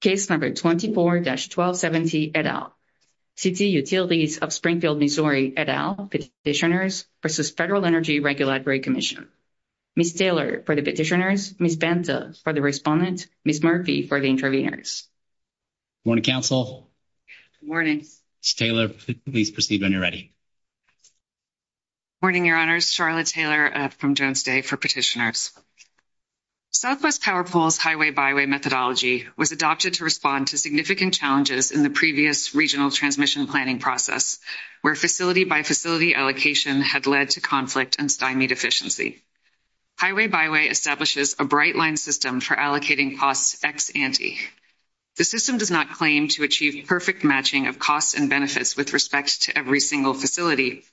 Case number 24-1270 et al. City Utilities of Springfield, Missouri et al. Petitioners v. Federal Energy Regulatory Commission. Ms. Taylor for the petitioners, Ms. Banta for the respondent, Ms. Murphy for the interveners. Good morning, council. Good morning. Ms. Taylor, please proceed when you're ready. Morning, your honors. Charlotte Taylor from Jones Day for petitioners. Southwest Power Pole's Highway Byway methodology was adopted to respond to significant challenges in the previous regional transmission planning process where facility by facility allocation had led to conflict and stymie deficiency. Highway Byway establishes a bright line system for allocating costs ex ante. The system does not claim to achieve perfect matching of costs and benefits with respect to every single facility,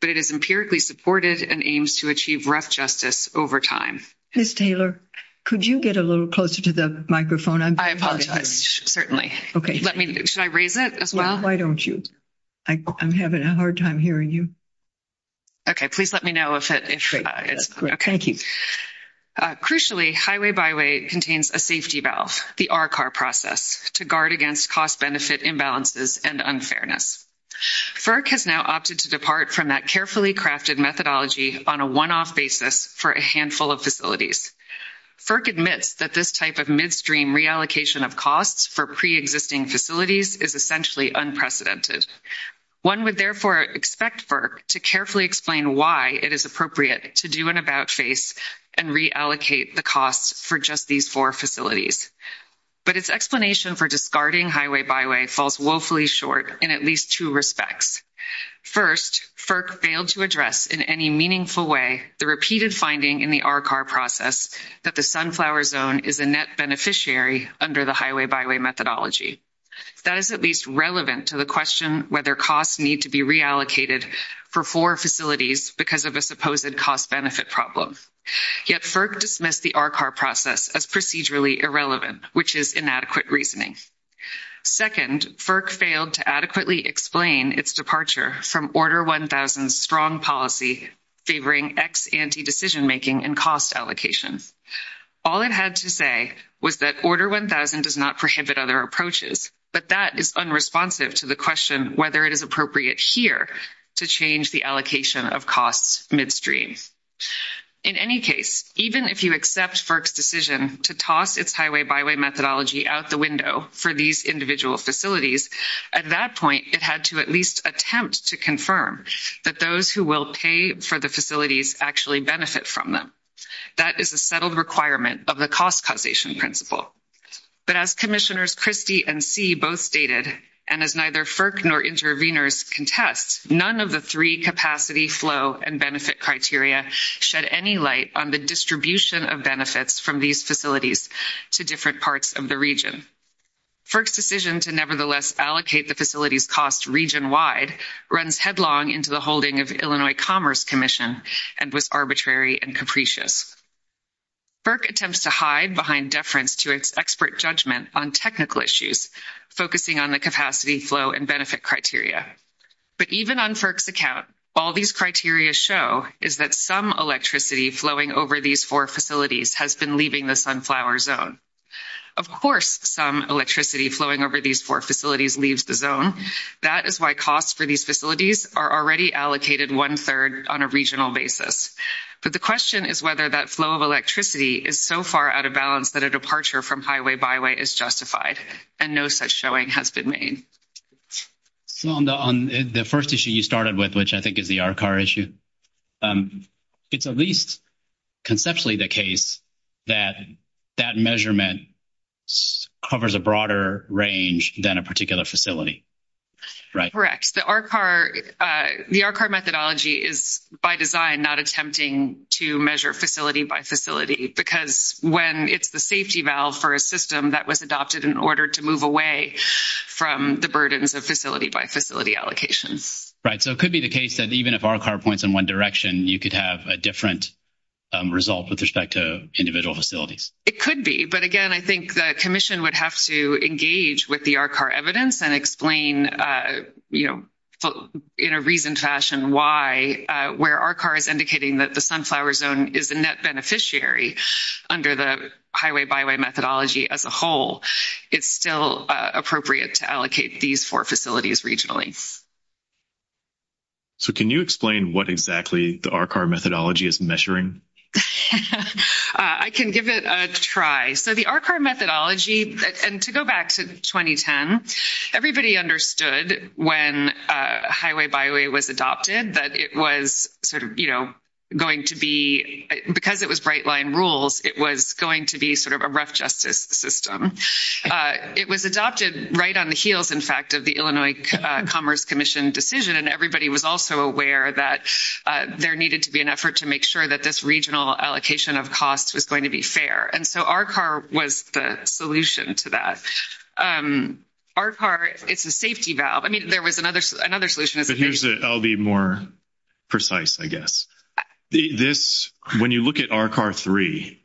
but it is empirically supported and aims to achieve rough justice over time. Ms. Taylor, could you get a little closer to the microphone? I apologize. Certainly. Okay. Let me should I raise it as well? Why don't you? I'm having a hard time hearing you. Okay. Please let me know if it's okay. Thank you. Crucially, Highway Byway contains a safety valve, the RCAR process to guard against cost benefit imbalances and unfairness. FERC has now opted to depart from that carefully crafted methodology on a one-off basis for a handful of facilities. FERC admits that this type of midstream reallocation of costs for pre-existing facilities is essentially unprecedented. One would therefore expect FERC to carefully explain why it is appropriate to do an about face and reallocate the costs for just these 4 facilities. But its explanation for discarding Highway Byway falls woefully short in at least 2 respects. 1st, FERC failed to address in any meaningful way the repeated finding in the RCAR process that the Sunflower Zone is a net beneficiary under the Highway Byway methodology. That is at least relevant to the question whether costs need to be reallocated for 4 facilities because of a supposed cost benefit problem. Yet FERC dismissed the RCAR process as procedurally irrelevant, which is inadequate reasoning. 2nd, FERC failed to adequately explain its departure from Order 1000's strong policy favoring ex-ante decision making and cost allocation. All it had to say was that Order 1000 does not prohibit other approaches, but that is unresponsive to the question whether it is appropriate here to change the allocation of costs midstream. In any case, even if you accept FERC's decision to toss its Highway Byway methodology out the window for these individual facilities, at that point it had to at least attempt to confirm that those who will pay for the facilities actually benefit from them. That is a settled requirement of the cost causation principle. But as Commissioners Christie and See both stated, and as neither FERC nor intervenors contest, none of the three capacity, flow, and benefit criteria shed any light on the distribution of benefits from these facilities to different parts of the region. FERC's decision to nevertheless allocate the facilities' costs region-wide runs headlong into the holding of the Illinois Commerce Commission and was arbitrary and capricious. FERC attempts to hide behind deference to its expert judgment on technical issues, focusing on the capacity, flow, and benefit criteria. But even on FERC's account, all these criteria show is that some electricity flowing over these four facilities has been leaving the Sunflower Zone. Of course, some electricity flowing over these four facilities leaves the zone. That is why costs for these facilities are already allocated one-third on a regional basis. But the question is whether that flow of electricity is so far out of balance that a departure from Highway Byway is justified, and no such showing has been made. So, on the first issue you started with, which I think is the RCAR issue, it's at least conceptually the case that that measurement covers a broader range than a particular facility, right? Correct. The RCAR methodology is, by design, not attempting to measure facility-by-facility because when it's the safety valve for a system that was adopted in order to move away from the burdens of facility-by-facility allocations. Right, so it could be the case that even if RCAR points in one direction, you could have a different result with respect to individual facilities. It could be, but again, I think the Commission would have to engage with the RCAR evidence and explain in a reasoned fashion why, where RCAR is indicating that the Sunflower Zone is a net beneficiary under the Highway Byway methodology as a whole, it's still appropriate to allocate these four facilities regionally. So, can you explain what exactly the RCAR methodology is measuring? I can give it a try. So, the RCAR methodology, and to go back to 2010, everybody understood when Highway Byway was adopted that it was sort of, you know, going to be, because it was bright line rules, it was going to be sort of a rough justice system. It was adopted right on the heels, in fact, of the Illinois Commerce Commission decision, and everybody was also aware that there needed to be an effort to make sure that this regional allocation of costs was going to be fair. And so, RCAR was the solution to that. RCAR, it's a safety valve. I mean, there was another solution. I'll be more precise, I guess. This, when you look at RCAR 3,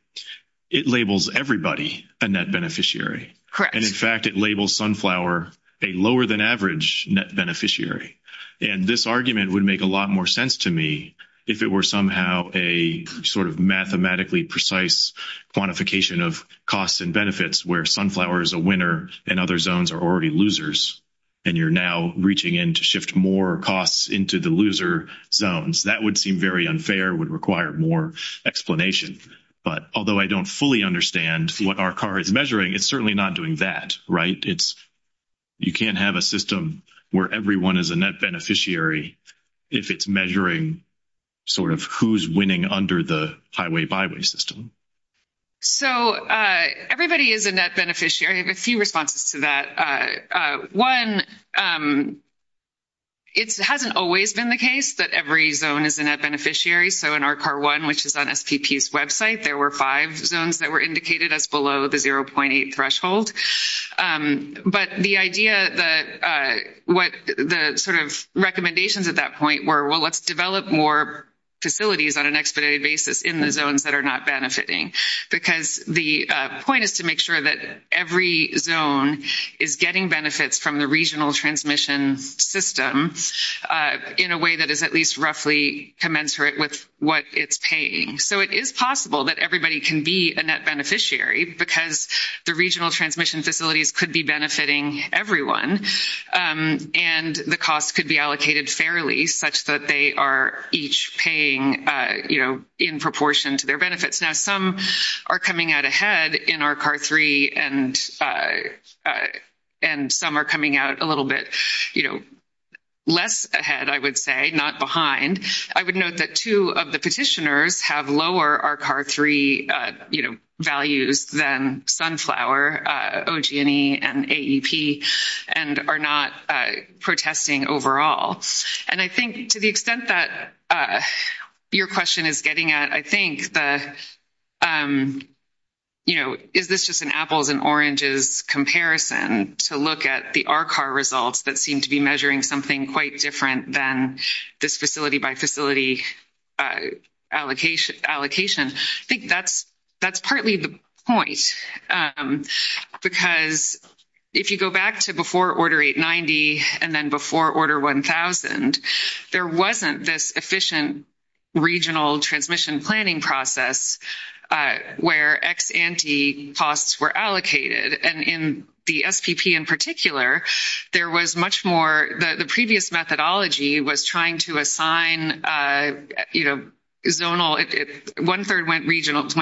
it labels everybody a net beneficiary. Correct. And in fact, it labels Sunflower a lower than average net beneficiary. And this argument would make a lot more sense to me if it were somehow a sort of mathematically precise quantification of costs and benefits where Sunflower is a winner and other zones are already losers. And you're now reaching in to shift more costs into the loser zones. That would seem very unfair, would require more explanation. But although I don't fully understand what RCAR is measuring, it's certainly not doing that, right? You can't have a system where everyone is a net beneficiary if it's measuring sort of who's winning under the Highway Byway system. So, everybody is a net beneficiary. I have a few responses to that. One, it hasn't always been the case that every zone is a net beneficiary. So, in RCAR 1, which is on SPP's website, there were five zones that were indicated as below the 0.8 threshold. But the idea that what the sort of recommendations at that point were, well, let's develop more facilities on an expedited basis in the zones that are not benefiting. Because the point is to make sure that every zone is getting benefits from the regional transmission system in a way that is at least roughly commensurate with what it's paying. So, it is possible that everybody can be a net beneficiary because the regional transmission facilities could be benefiting everyone. And the costs could be allocated fairly such that they are each paying in proportion to their benefits. Now, some are coming out ahead in RCAR 3 and some are coming out a little bit less ahead, I would say, not behind. I would note that two of the petitioners have lower RCAR 3 values than Sunflower, OG&E, and AEP, and are not protesting overall. And I think to the extent that your question is getting at, I think, you know, is this just an apples and oranges comparison to look at the RCAR results that seem to be measuring something quite different than this facility-by-facility allocation? I think that's partly the point because if you go back to before Order 890 and then before Order 1000, there wasn't this efficient regional transmission planning process where ex-ante costs were allocated. And in the SPP in particular, there was much more – the previous methodology was trying to assign, you know, zonal – one-third went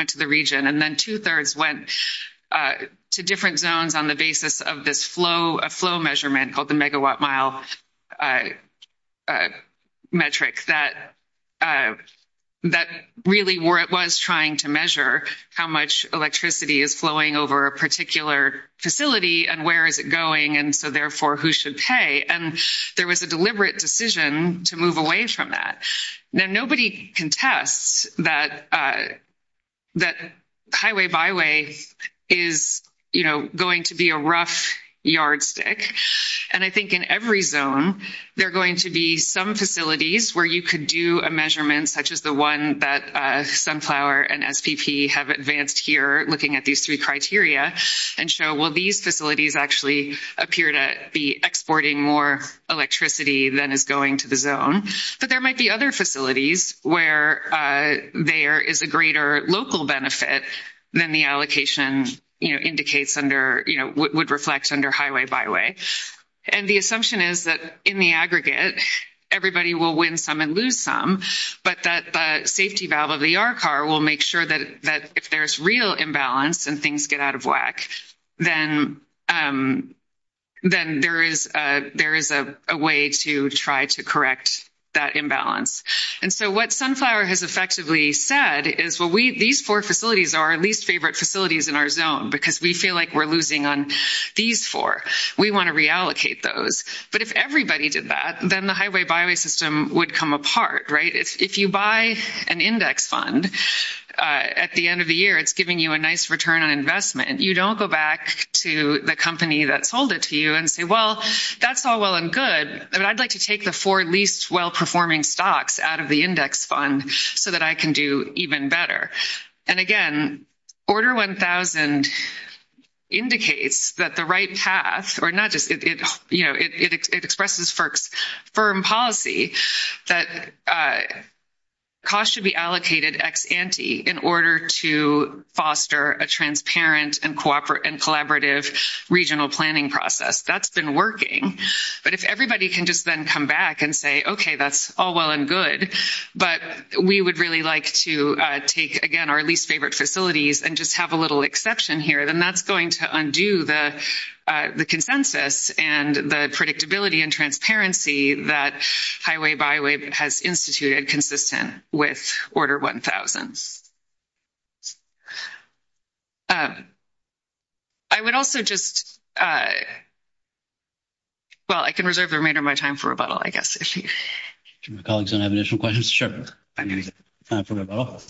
to the region and then two-thirds went to different zones on the basis of this flow measurement called the megawatt-mile metric. And I think that really was trying to measure how much electricity is flowing over a particular facility and where is it going, and so, therefore, who should pay? And there was a deliberate decision to move away from that. Now, nobody contests that highway-by-way is, you know, going to be a rough yardstick. And I think in every zone, there are going to be some facilities where you could do a measurement such as the one that Sunflower and SPP have advanced here looking at these three criteria and show, well, these facilities actually appear to be exporting more electricity than is going to the zone. But there might be other facilities where there is a greater local benefit than the allocation, you know, indicates under – you know, would reflect under highway-by-way. And the assumption is that in the aggregate, everybody will win some and lose some, but that the safety valve of the ER car will make sure that if there's real imbalance and things get out of whack, then there is a way to try to correct that imbalance. And so what Sunflower has effectively said is, well, we – these four facilities are our least favorite facilities in our zone because we feel like we're losing on these four. We want to reallocate those. But if everybody did that, then the highway-by-way system would come apart, right? If you buy an index fund at the end of the year, it's giving you a nice return on investment. You don't go back to the company that sold it to you and say, well, that's all well and good, but I'd like to take the four least well-performing stocks out of the index fund so that I can do even better. And again, Order 1000 indicates that the right path – or not just – you know, it expresses FERC's firm policy that cost should be allocated ex ante in order to foster a transparent and collaborative regional planning process. That's been working. But if everybody can just then come back and say, okay, that's all well and good, but we would really like to take, again, our least favorite facilities and just have a little exception here, then that's going to undo the consensus and the predictability and transparency that highway-by-way has instituted consistent with Order 1000. I would also just – well, I can reserve the remainder of my time for rebuttal, I guess, if you – Do my colleagues have any additional questions? I'm going to reserve my time for rebuttal.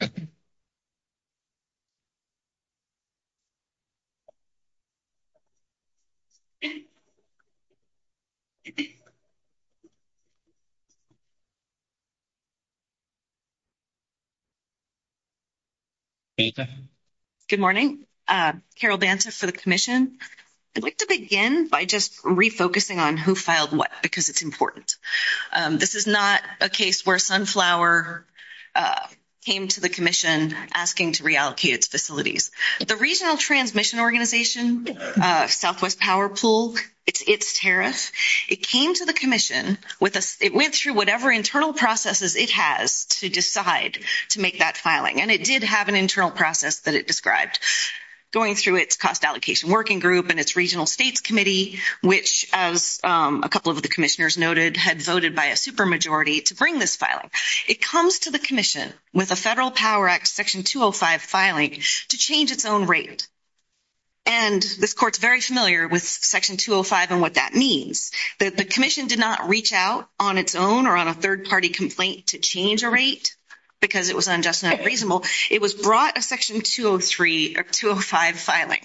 Thank you. Good morning, Carol Banta for the commission. I'd like to begin by just refocusing on who filed what because it's important. This is not a case where Sunflower came to the commission asking to reallocate its facilities. The Regional Transmission Organization, Southwest Power Pool, its tariff, it came to the commission, it went through whatever internal processes it has to decide to make that filing and it did have an internal process that it described. Going through its cost allocation working group and its regional states committee, which as a couple of the commissioners noted had voted by a super majority to bring this filing. It comes to the commission with a federal power act section 205 filing to change its own rate. And this court's very familiar with section 205 and what that means. That the commission did not reach out on its own or on a third party complaint to change a rate because it was unjust and unreasonable. It was brought a section 205 filing,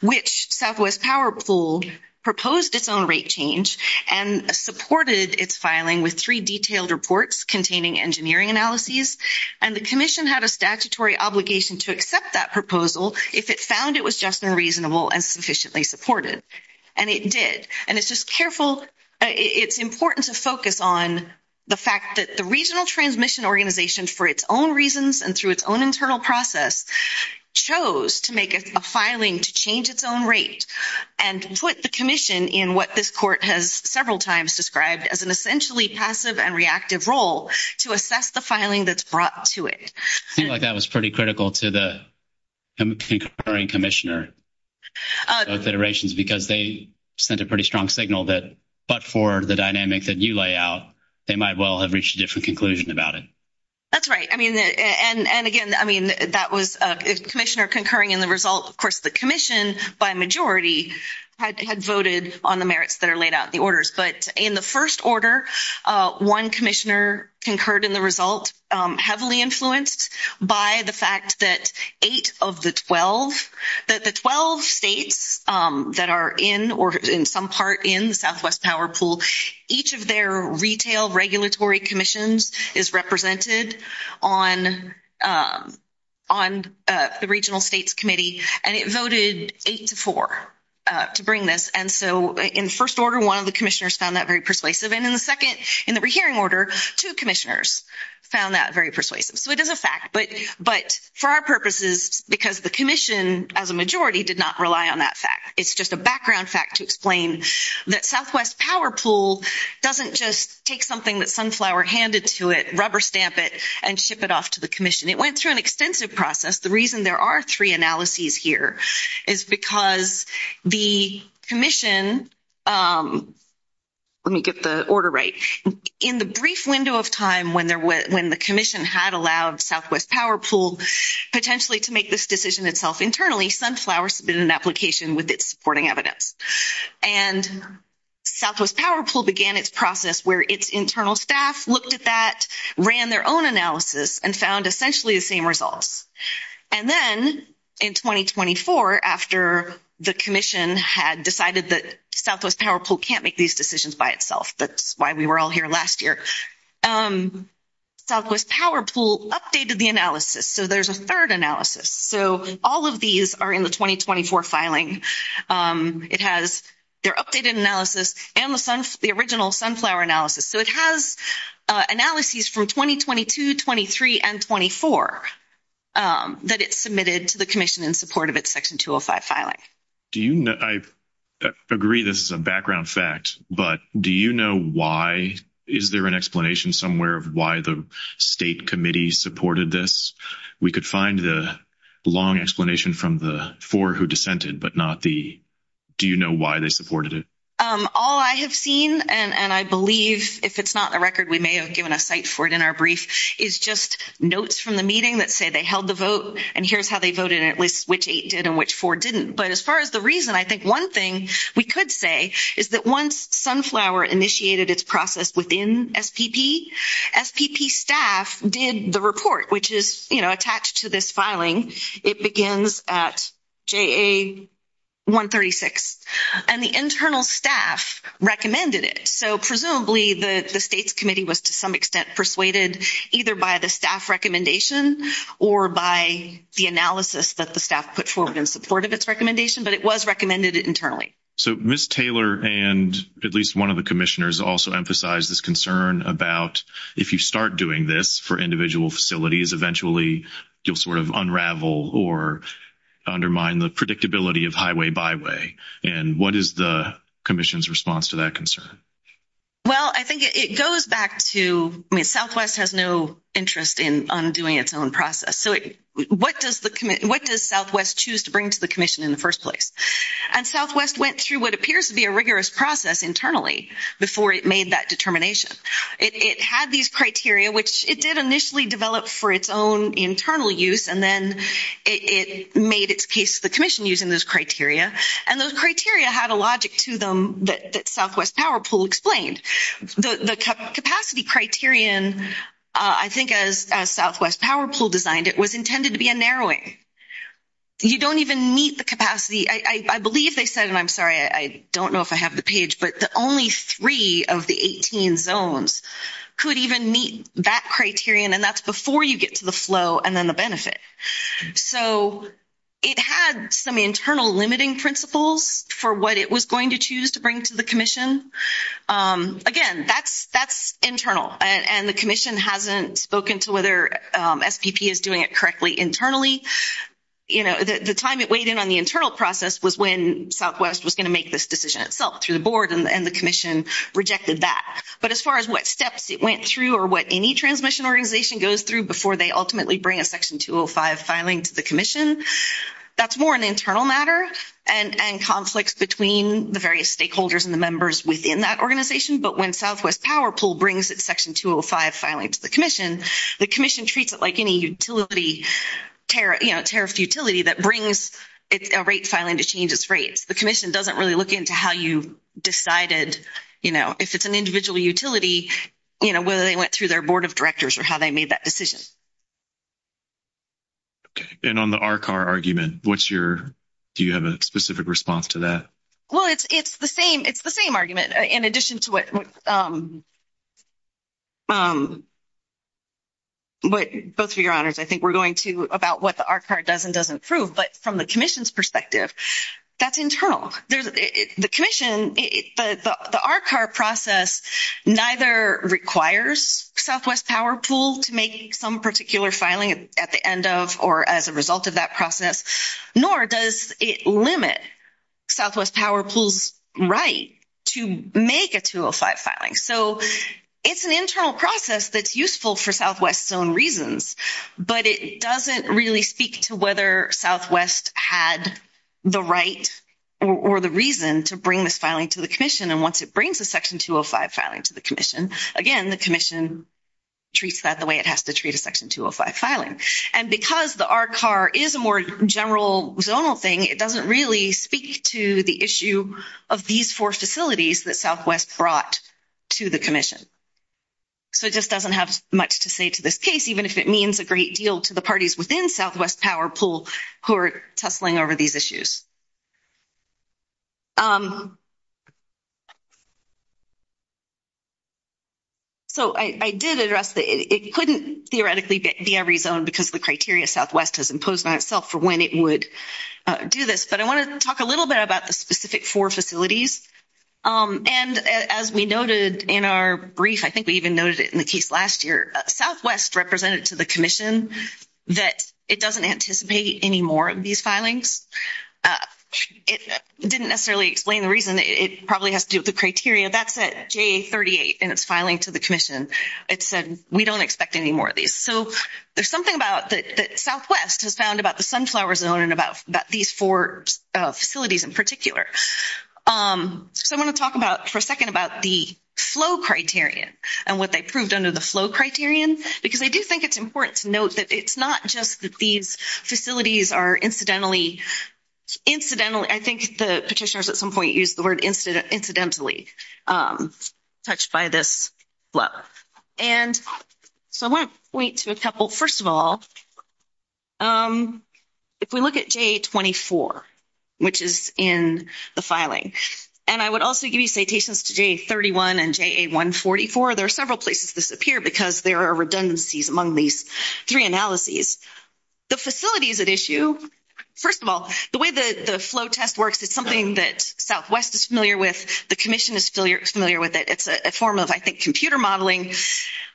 which Southwest Power Pool proposed its own rate change and supported its filing with three detailed reports containing engineering analyses. And the commission had a statutory obligation to accept that proposal if it found it was just and reasonable and sufficiently supported. And it did. And it's just careful, it's important to focus on the fact that the Regional Transmission Organization for its own reasons and through its own internal process chose to make a filing to change its own rate and put the commission in what this court has several times described as an essentially passive and reactive role to assess the filing that's brought to it. I feel like that was pretty critical to the concurring commissioner of federations because they sent a pretty strong signal that but for the dynamic that you lay out, they might well have reached a different conclusion about it. That's right. I mean, and again, I mean, that was a commissioner concurring in the result. Of course, the commission by majority had voted on the merits that are laid out in the orders. But in the first order, one commissioner concurred in the result, heavily influenced by the fact that eight of the 12, that the 12 states that are in or in some part in Southwest PowerPool, each of their retail regulatory commissions is represented on the regional states committee, and it voted eight to four to bring this. And so in first order, one of the commissioners found that very persuasive. And in the second, in the rehearing order, two commissioners found that very persuasive. So it is a fact. But for our purposes, because the commission as a majority did not rely on that fact. It's just a background fact to explain that Southwest PowerPool doesn't just take something that Sunflower handed to it, rubber stamp it, and ship it off to the commission. It went through an extensive process. The reason there are three analyses here is because the commission, let me get the order right, in the brief window of time when the commission had allowed Southwest PowerPool potentially to make this decision itself internally, Sunflower submitted an application with its supporting evidence. And Southwest PowerPool began its process where its internal staff looked at that, ran their own analysis, and found essentially the same results. And then in 2024, after the commission had decided that Southwest PowerPool can't make these decisions by itself, that's why we were all here last year, Southwest PowerPool updated the analysis. So there's a third analysis. So all of these are in the 2024 filing. It has their updated analysis and the original Sunflower analysis. So it has analyses from 2022, 23, and 24 that it submitted to the commission in support of its Section 205 filing. I agree this is a background fact, but do you know why? Is there an explanation somewhere of why the state committee supported this? We could find the long explanation from the four who dissented, but not the, do you know why they supported it? All I have seen, and I believe if it's not a record, we may have given a site for it in our brief, is just notes from the meeting that say they held the vote and here's how they voted, at least which eight did and which four didn't. But as far as the reason, I think one thing we could say is that once Sunflower initiated its process within SPP, SPP staff did the report, which is attached to this filing. It begins at JA-136, and the internal staff recommended it. So presumably the state's committee was to some extent persuaded either by the staff recommendation or by the analysis that the staff put forward in support of its recommendation, but it was recommended internally. So Ms. Taylor and at least one of the commissioners also emphasized this concern about if you start doing this for individual facilities, eventually you'll sort of unravel or undermine the predictability of highway byway. And what is the commission's response to that concern? Well, I think it goes back to, I mean, Southwest has no interest in undoing its own process. So what does Southwest choose to bring to the commission in the first place? And Southwest went through what appears to be a rigorous process internally before it made that determination. It had these criteria, which it did initially develop for its own internal use, and then it made its case to the commission using those criteria. And those criteria had a logic to them that Southwest Power Pool explained. The capacity criterion, I think as Southwest Power Pool designed it, was intended to be a narrowing. You don't even meet the capacity. I believe they said, and I'm sorry, I don't know if I have the page, but the only three of the 18 zones could even meet that criterion, and that's before you get to the flow and then the benefit. So it had some internal limiting principles for what it was going to choose to bring to the commission. Again, that's internal, and the commission hasn't spoken to whether SPP is doing it correctly internally. The time it weighed in on the internal process was when Southwest was going to make this decision itself through the board, and the commission rejected that. But as far as what steps it went through or what any transmission organization goes through before they ultimately bring a Section 205 filing to the commission, that's more an internal matter and conflicts between the various stakeholders and the members within that organization. But when Southwest Power Pool brings its Section 205 filing to the commission, the that brings a rate filing to change its rates. The commission doesn't really look into how you decided, you know, if it's an individual utility, you know, whether they went through their board of directors or how they made that decision. Okay. And on the RCAR argument, what's your, do you have a specific response to that? Well, it's the same argument, in addition to what both of your honors, I think we're about what the RCAR does and doesn't prove. But from the commission's perspective, that's internal. The commission, the RCAR process neither requires Southwest Power Pool to make some particular filing at the end of or as a result of that process, nor does it limit Southwest Power Pool's right to make a 205 filing. So it's an internal process that's useful for Southwest's own reasons, but it doesn't really speak to whether Southwest had the right or the reason to bring this filing to the commission. And once it brings a Section 205 filing to the commission, again, the commission treats that the way it has to treat a Section 205 filing. And because the RCAR is a more general zonal thing, it doesn't really speak to the issue of these four facilities that Southwest brought to the commission. So it just doesn't have much to say to this case, even if it means a great deal to the parties within Southwest Power Pool who are tussling over these issues. So I did address that it couldn't theoretically be every zone because the criteria Southwest has imposed on itself for when it would do this. But I want to talk a little bit about the specific four facilities. And as we noted in our brief, I think we even noted it in the case last year, Southwest represented to the commission that it doesn't anticipate any more of these filings. It didn't necessarily explain the reason. It probably has to do with the criteria. That's at J38 in its filing to the commission. It said, we don't expect any more of these. So there's something about that Southwest has found about the sunflower zone and about these four facilities in particular. So I want to talk about for a second about the flow criterion and what they proved under the flow criterion. Because I do think it's important to note that it's not just that these facilities are incidentally, incidentally, I think the petitioners at some point used the word incidentally touched by this flow. And so I want to point to a couple. First of all, if we look at J24, which is in the filing, and I would also give you citations to J31 and JA144. There are several places this appeared because there are redundancies among these three analyses. The facilities at issue, first of all, the way the flow test works, it's something that Southwest is familiar with. The commission is familiar with it. It's a form of, I think, computer modeling,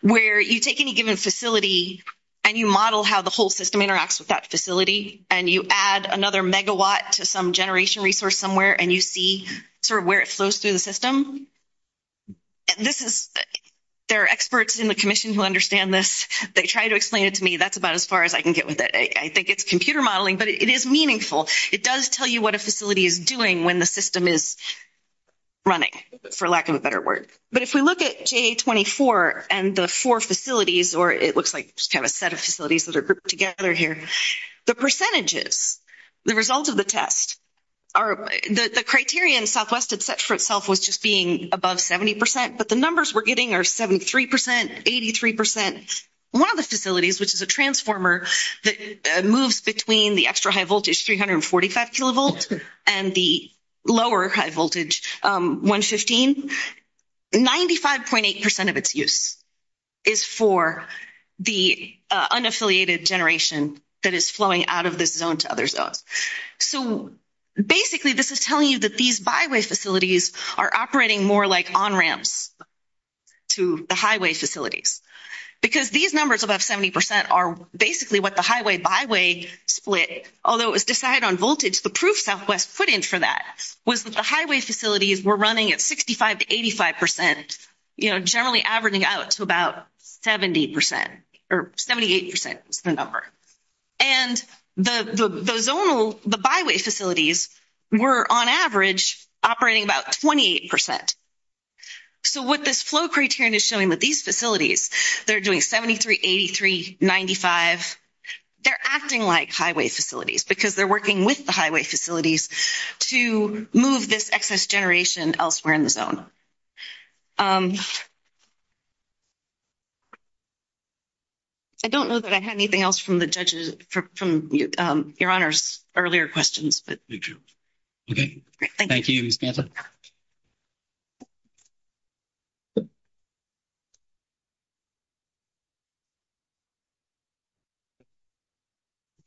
where you take any given facility and you model how the whole system interacts with that facility. And you add another megawatt to some generation resource somewhere and you see sort of where it flows through the system. There are experts in the commission who understand this. They try to explain it to me. That's about as far as I can get with it. I think it's computer modeling, but it is meaningful. It does tell you what a facility is doing when the system is running, for lack of a better word. But if we look at J24 and the four facilities, or it looks like just kind of a set of facilities that are grouped together here, the percentages, the result of the test, the criterion Southwest had set for itself was just being above 70 percent, but the numbers we're getting are 73 percent, 83 percent. One of the facilities, which is a transformer that moves between the extra high voltage, 345 kilovolt, and the lower high voltage, 115, 95.8 percent of its use is for the unaffiliated generation that is flowing out of this zone to other zones. So, basically, this is telling you that these byway facilities are operating more like on ramps to the highway facilities. Because these numbers above 70 percent are basically what the highway-byway split, although it was decided on voltage, the proof Southwest put in for that was that the highway facilities were running at 65 to 85 percent, you know, generally averaging out to about 70 percent, or 78 percent is the number. And the zonal, the byway facilities were, on average, operating about 28 percent. So, what this flow criterion is showing with these facilities, they're doing 73, 83, 95, they're acting like highway facilities, because they're working with the highway facilities to move this excess generation elsewhere in the zone. I don't know that I had anything else from the judges, from Your Honors' earlier questions. Thank you. Okay. Thank you, Ms. Pantla. We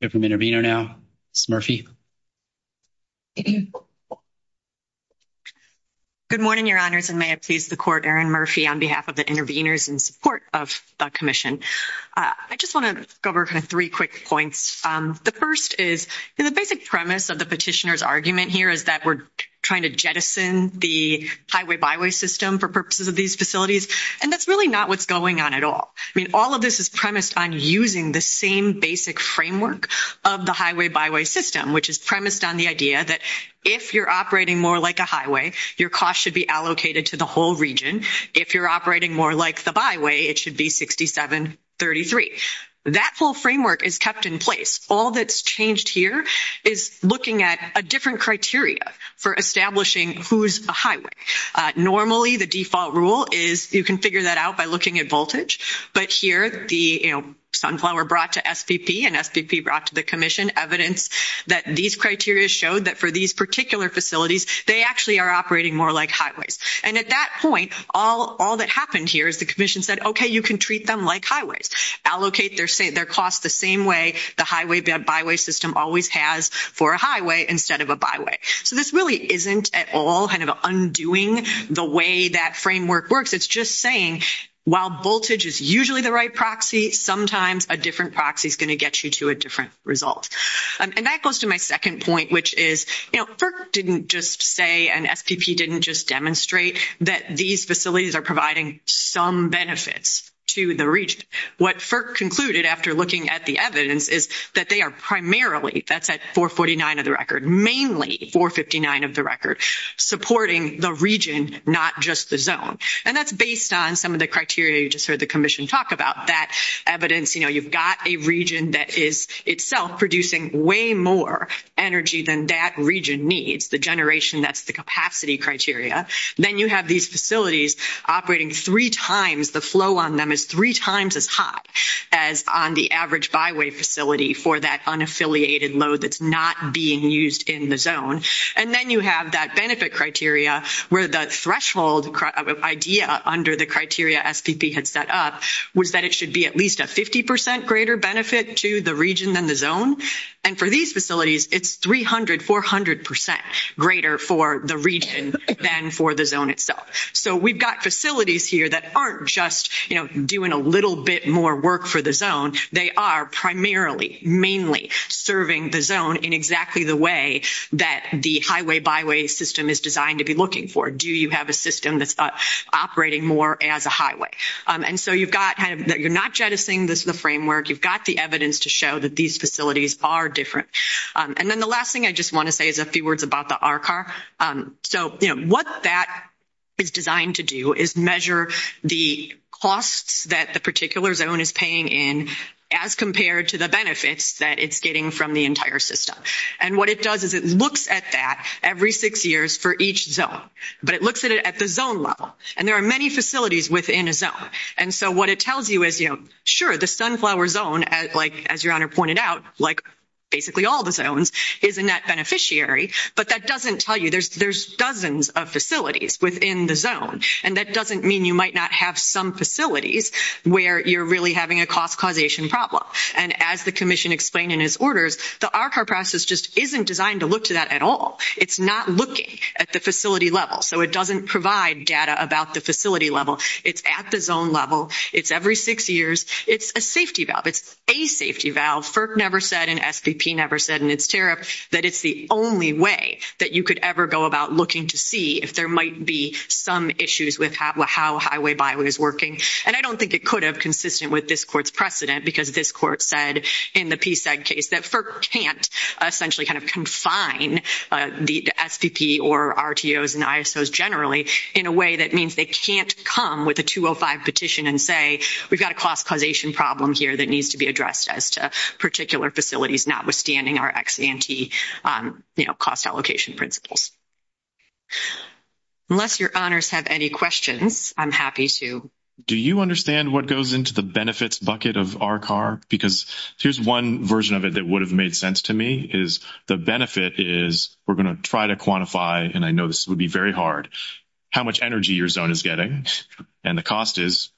have an intervener now, Ms. Murphy. Good morning, Your Honors, and may it please the Court, Aaron Murphy, on behalf of the interveners in support of the Commission. I just want to go over kind of three quick points. The first is, you know, the basic premise of the petitioner's argument here is that we're trying to jettison the highway-byway system for purposes of these facilities, and that's really not what's going on at all. I mean, all of this is premised on using the same basic framework of the highway-byway system, which is premised on the idea that if you're operating more like a highway, your costs should be allocated to the whole region. If you're operating more like the byway, it should be 67, 33. That whole framework is kept in place. All that's changed here is looking at a different criteria for establishing who's a highway. Normally, the default rule is you can figure that out by looking at voltage, but here, the, you know, Sunflower brought to SPP and SPP brought to the Commission evidence that these criteria showed that for these particular facilities, they actually are operating more like highways. And at that point, all that happened here is the Commission said, okay, you can treat them like highways. Allocate their costs the same way the highway-byway system always has for a highway instead of a byway. So this really isn't at all kind of undoing the way that framework works. It's just saying while voltage is usually the right proxy, sometimes a different proxy is going to get you to a different result. And that goes to my second point, which is, you know, FERC didn't just say and SPP didn't just demonstrate that these facilities are providing some benefits to the region. What FERC concluded after looking at the evidence is that they are primarily, that's at 449 of the record, mainly 459 of the record, supporting the region, not just the zone. And that's based on some of the criteria you just heard the Commission talk about. That evidence, you know, you've got a region that is itself producing way more energy than that region needs, the generation that's the capacity criteria. Then you have these facilities operating three times, the flow on them is three times as high as on the average byway facility for that unaffiliated load that's not being used in the zone. And then you have that benefit criteria where the threshold idea under the criteria SPP had set up was that it should be at least a 50 percent greater benefit to the region than the zone. And for these facilities, it's 300, 400 percent greater for the region than for the zone itself. So we've got facilities here that aren't just, you know, doing a little bit more work for the zone. They are primarily, mainly serving the zone in exactly the way that the highway byway system is designed to be looking for. Do you have a system that's operating more as a highway? And so you've got, you're not jettisoning the framework. You've got the evidence to show that these facilities are different. And then the last thing I just want to say is a few words about the RCAR. So, you know, what that is designed to do is measure the costs that the particular zone is paying in as compared to the benefits that it's getting from the entire system. And what it does is it looks at that every six years for each zone. But it looks at it at the zone level. And there are many facilities within a zone. And so what it tells you is, you know, sure, the Sunflower Zone, as your Honor pointed out, like basically all the zones, is a net beneficiary. But that doesn't tell you there's dozens of facilities within the zone. And that doesn't mean you might not have some facilities where you're really having a cost causation problem. And as the commission explained in his orders, the RCAR process just isn't designed to look to that at all. It's not looking at the facility level. So it doesn't provide data about the facility level. It's at the zone level. It's every six years. It's a safety valve. It's a safety valve. FERC never said and SVP never said in its tariff that it's the only way that you could ever go about looking to see if there might be some issues with how Highway Byway is working. And I don't think it could have consistent with this court's precedent because this court said in the PSAG case that FERC can't essentially kind of confine the SVP or RTOs and ISOs generally in a way that means they can't come with a 205 petition and say we've got a cost causation problem here that needs to be addressed as to particular facilities notwithstanding our ex-ante, you know, cost allocation principles. Unless your honors have any questions, I'm happy to. Do you understand what goes into the benefits bucket of RCAR? Because here's one version of it that would have made sense to me is the benefit is we're going to try to quantify, and I know this would be very hard, how much energy your zone is getting and the cost is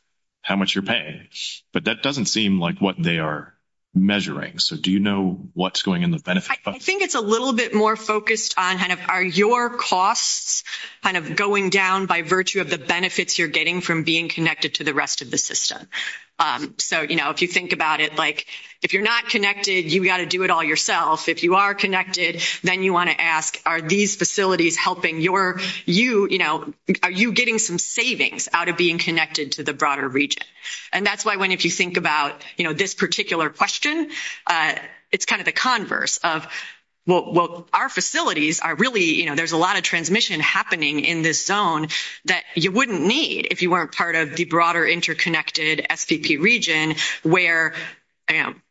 how much you're paying. But that doesn't seem like what they are measuring. So do you know what's going in the benefit bucket? I think it's a little bit more focused on kind of are your costs kind of going down by virtue of the benefits you're getting from being connected to the rest of the system. So, you know, if you think about it, like, if you're not connected, you got to do it all yourself. If you are connected, then you want to ask, are these facilities helping your you, you know, are you getting some savings out of being connected to the broader region? And that's why when if you think about, you know, this particular question, it's kind of the converse of, well, our facilities are really, you know, there's a lot of transmission happening in this zone that you wouldn't need if you weren't part of the broader interconnected SPP region where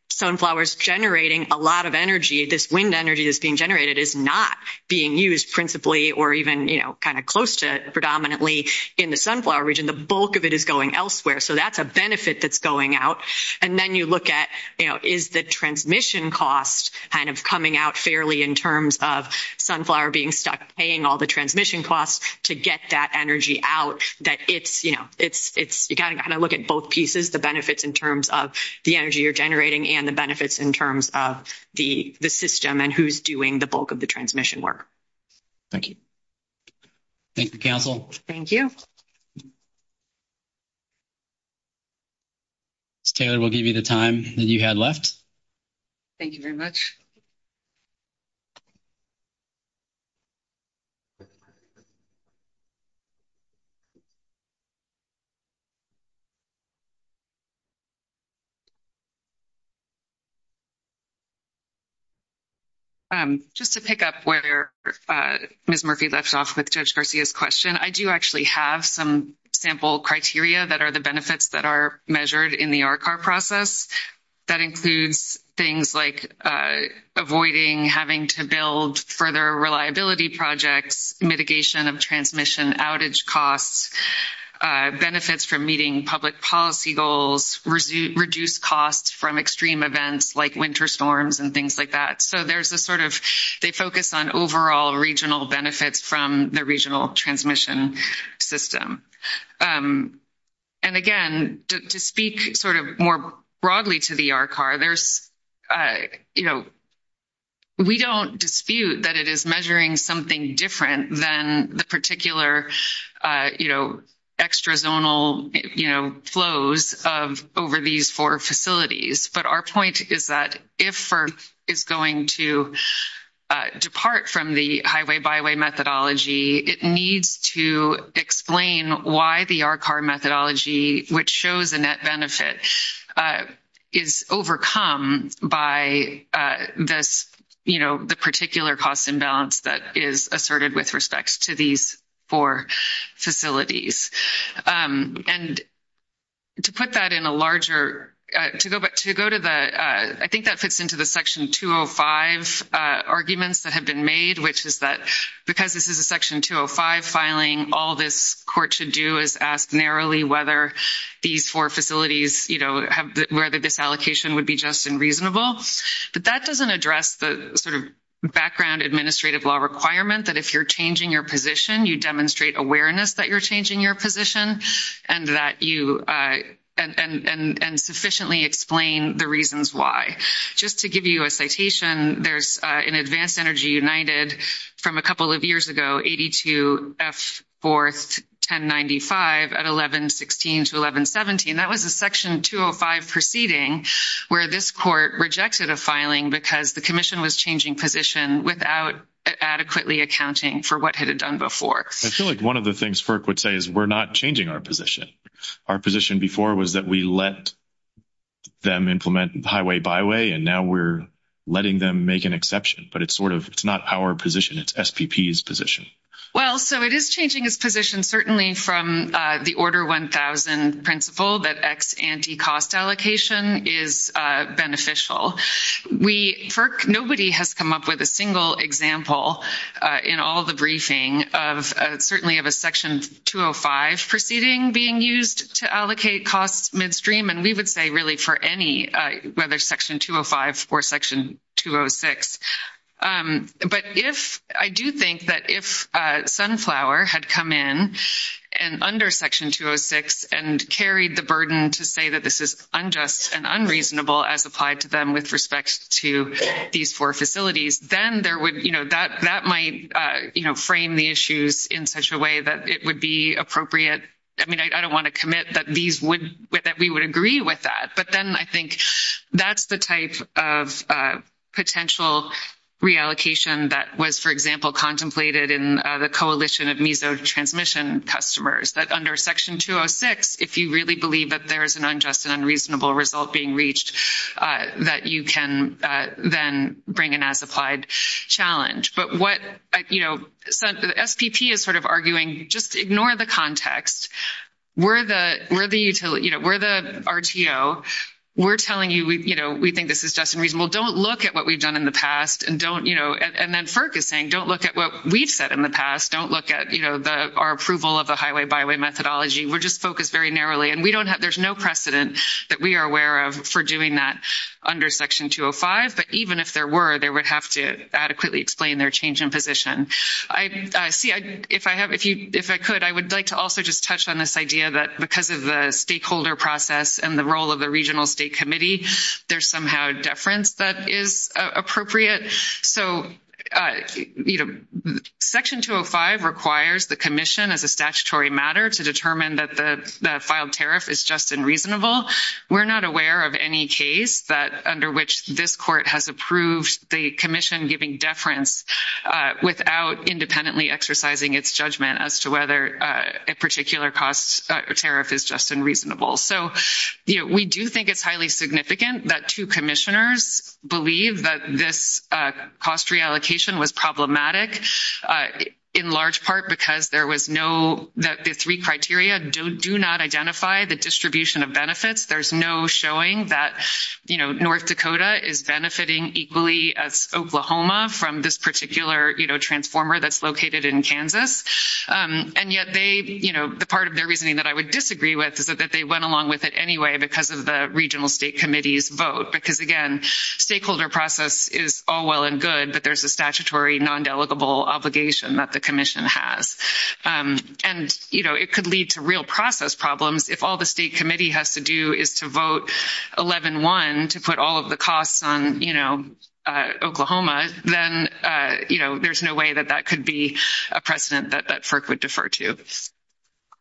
sunflowers generating a lot of energy, this wind energy that's being generated is not being used principally or even, you know, kind of close to predominantly in the sunflower region. The bulk of it is going elsewhere. So that's a benefit that's going out. And then you look at, you know, is the transmission cost kind of coming out fairly in terms of sunflower being stuck paying all the transmission costs to get that energy out that it's, you know, kind of look at both pieces, the benefits in terms of the energy you're generating and the benefits in terms of the system and who's doing the bulk of the transmission work. Thank you. Thank you, Council. Thank you. Ms. Taylor, we'll give you the time that you had left. Thank you very much. Just to pick up where Ms. Murphy left off with Judge Garcia's question, I do actually have some sample criteria that are the benefits that are measured in the RCAR process. That includes things like avoiding having to build further reliability projects, mitigation of transmission outage costs, benefits from meeting safety standards, and so on and so forth. There's also things like meeting public policy goals, reduce costs from extreme events like winter storms and things like that. So there's a sort of they focus on overall regional benefits from the regional transmission system. And again, to speak sort of more broadly to the RCAR, there's, you know, we don't dispute that it is measuring something different than the particular, you know, extrazonal, you know, flows of over these four facilities. But our point is that if FERC is going to depart from the highway byway methodology, it needs to explain why the RCAR methodology, which shows a net benefit, is overcome by this, you know, the particular cost imbalance that is asserted with respect to these four facilities. And to put that in a larger, to go to the, I think that fits into the Section 205 arguments that have been made, which is that because this is a Section 205 filing, all this court should do is ask narrowly whether these four facilities, you know, whether this allocation would be just and reasonable. But that doesn't address the sort of background administrative law requirement that if you're changing your position, you demonstrate awareness that you're changing your position and that you, and sufficiently explain the reasons why. Just to give you a citation, there's in Advanced Energy United from a couple of years ago, 82F41095 at 1116 to 1117, that was a Section 205 proceeding where this court rejected a the commission was changing position without adequately accounting for what had it done before. I feel like one of the things FERC would say is we're not changing our position. Our position before was that we let them implement highway byway, and now we're letting them make an exception. But it's sort of, it's not our position, it's SPP's position. Well, so it is changing its position, certainly from the Order 1000 principle that ex ante cost allocation is beneficial. Nobody has come up with a single example in all the briefing of certainly of a Section 205 proceeding being used to allocate costs midstream. And we would say really for any, whether Section 205 or Section 206. But if, I do think that if Sunflower had come in and under Section 206 and carried the burden to say that this is unjust and unreasonable as applied to them with respect to these four facilities, then there would, you know, that might, you know, frame the issues in such a way that it would be appropriate. I mean, I don't want to commit that these would, that we would agree with that. But then I think that's the type of potential reallocation that was, for example, contemplated in the coalition of mesotransmission customers that under Section 206, if you really believe that there is an unjust and unreasonable result being reached, that you can then bring in as applied challenge. But what, you know, SPP is sort of arguing, just ignore the context. We're the, you know, we're the RTO. We're telling you, you know, we think this is just and reasonable. Don't look at what we've done in the past and don't, you know, and then FERC is saying don't look at what we've said in the past. Don't look at, you know, our approval of the highway byway methodology. We're just focused very narrowly. And we don't have, there's no precedent that we are aware of for doing that under Section 205. But even if there were, they would have to adequately explain their change in position. I see, if I have, if you, if I could, I would like to also just touch on this idea that because of the stakeholder process and the role of the regional state committee, there's somehow deference that is appropriate. So, you know, Section 205 requires the commission as a statutory matter to determine that the filed tariff is just and reasonable. We're not aware of any case that under which this court has approved the commission giving deference without independently exercising its judgment as to whether a particular cost tariff is just and reasonable. So, you know, we do think it's highly significant that two commissioners believe that this cost reallocation was problematic in large part because there was no, the three criteria do not identify the distribution of benefits. There's no showing that, you know, North Dakota is benefiting equally as Oklahoma from this particular, you know, transformer that's located in Kansas. And yet they, you know, the part of their reasoning that I would disagree with is that they went along with it anyway because of the regional state committee's vote. Because again, stakeholder process is all well and good, but there's a statutory non-delegable obligation that the commission has. And, you know, it could lead to real process problems if all the state committee has to do is to vote 11-1 to put all of the costs on, you know, Oklahoma, then, you know, there's no way that that could be a precedent that FERC would defer to.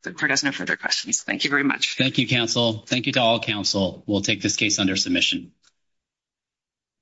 The court has no further questions. Thank you very much. Thank you, counsel. Thank you to all counsel. We'll take this case under submission.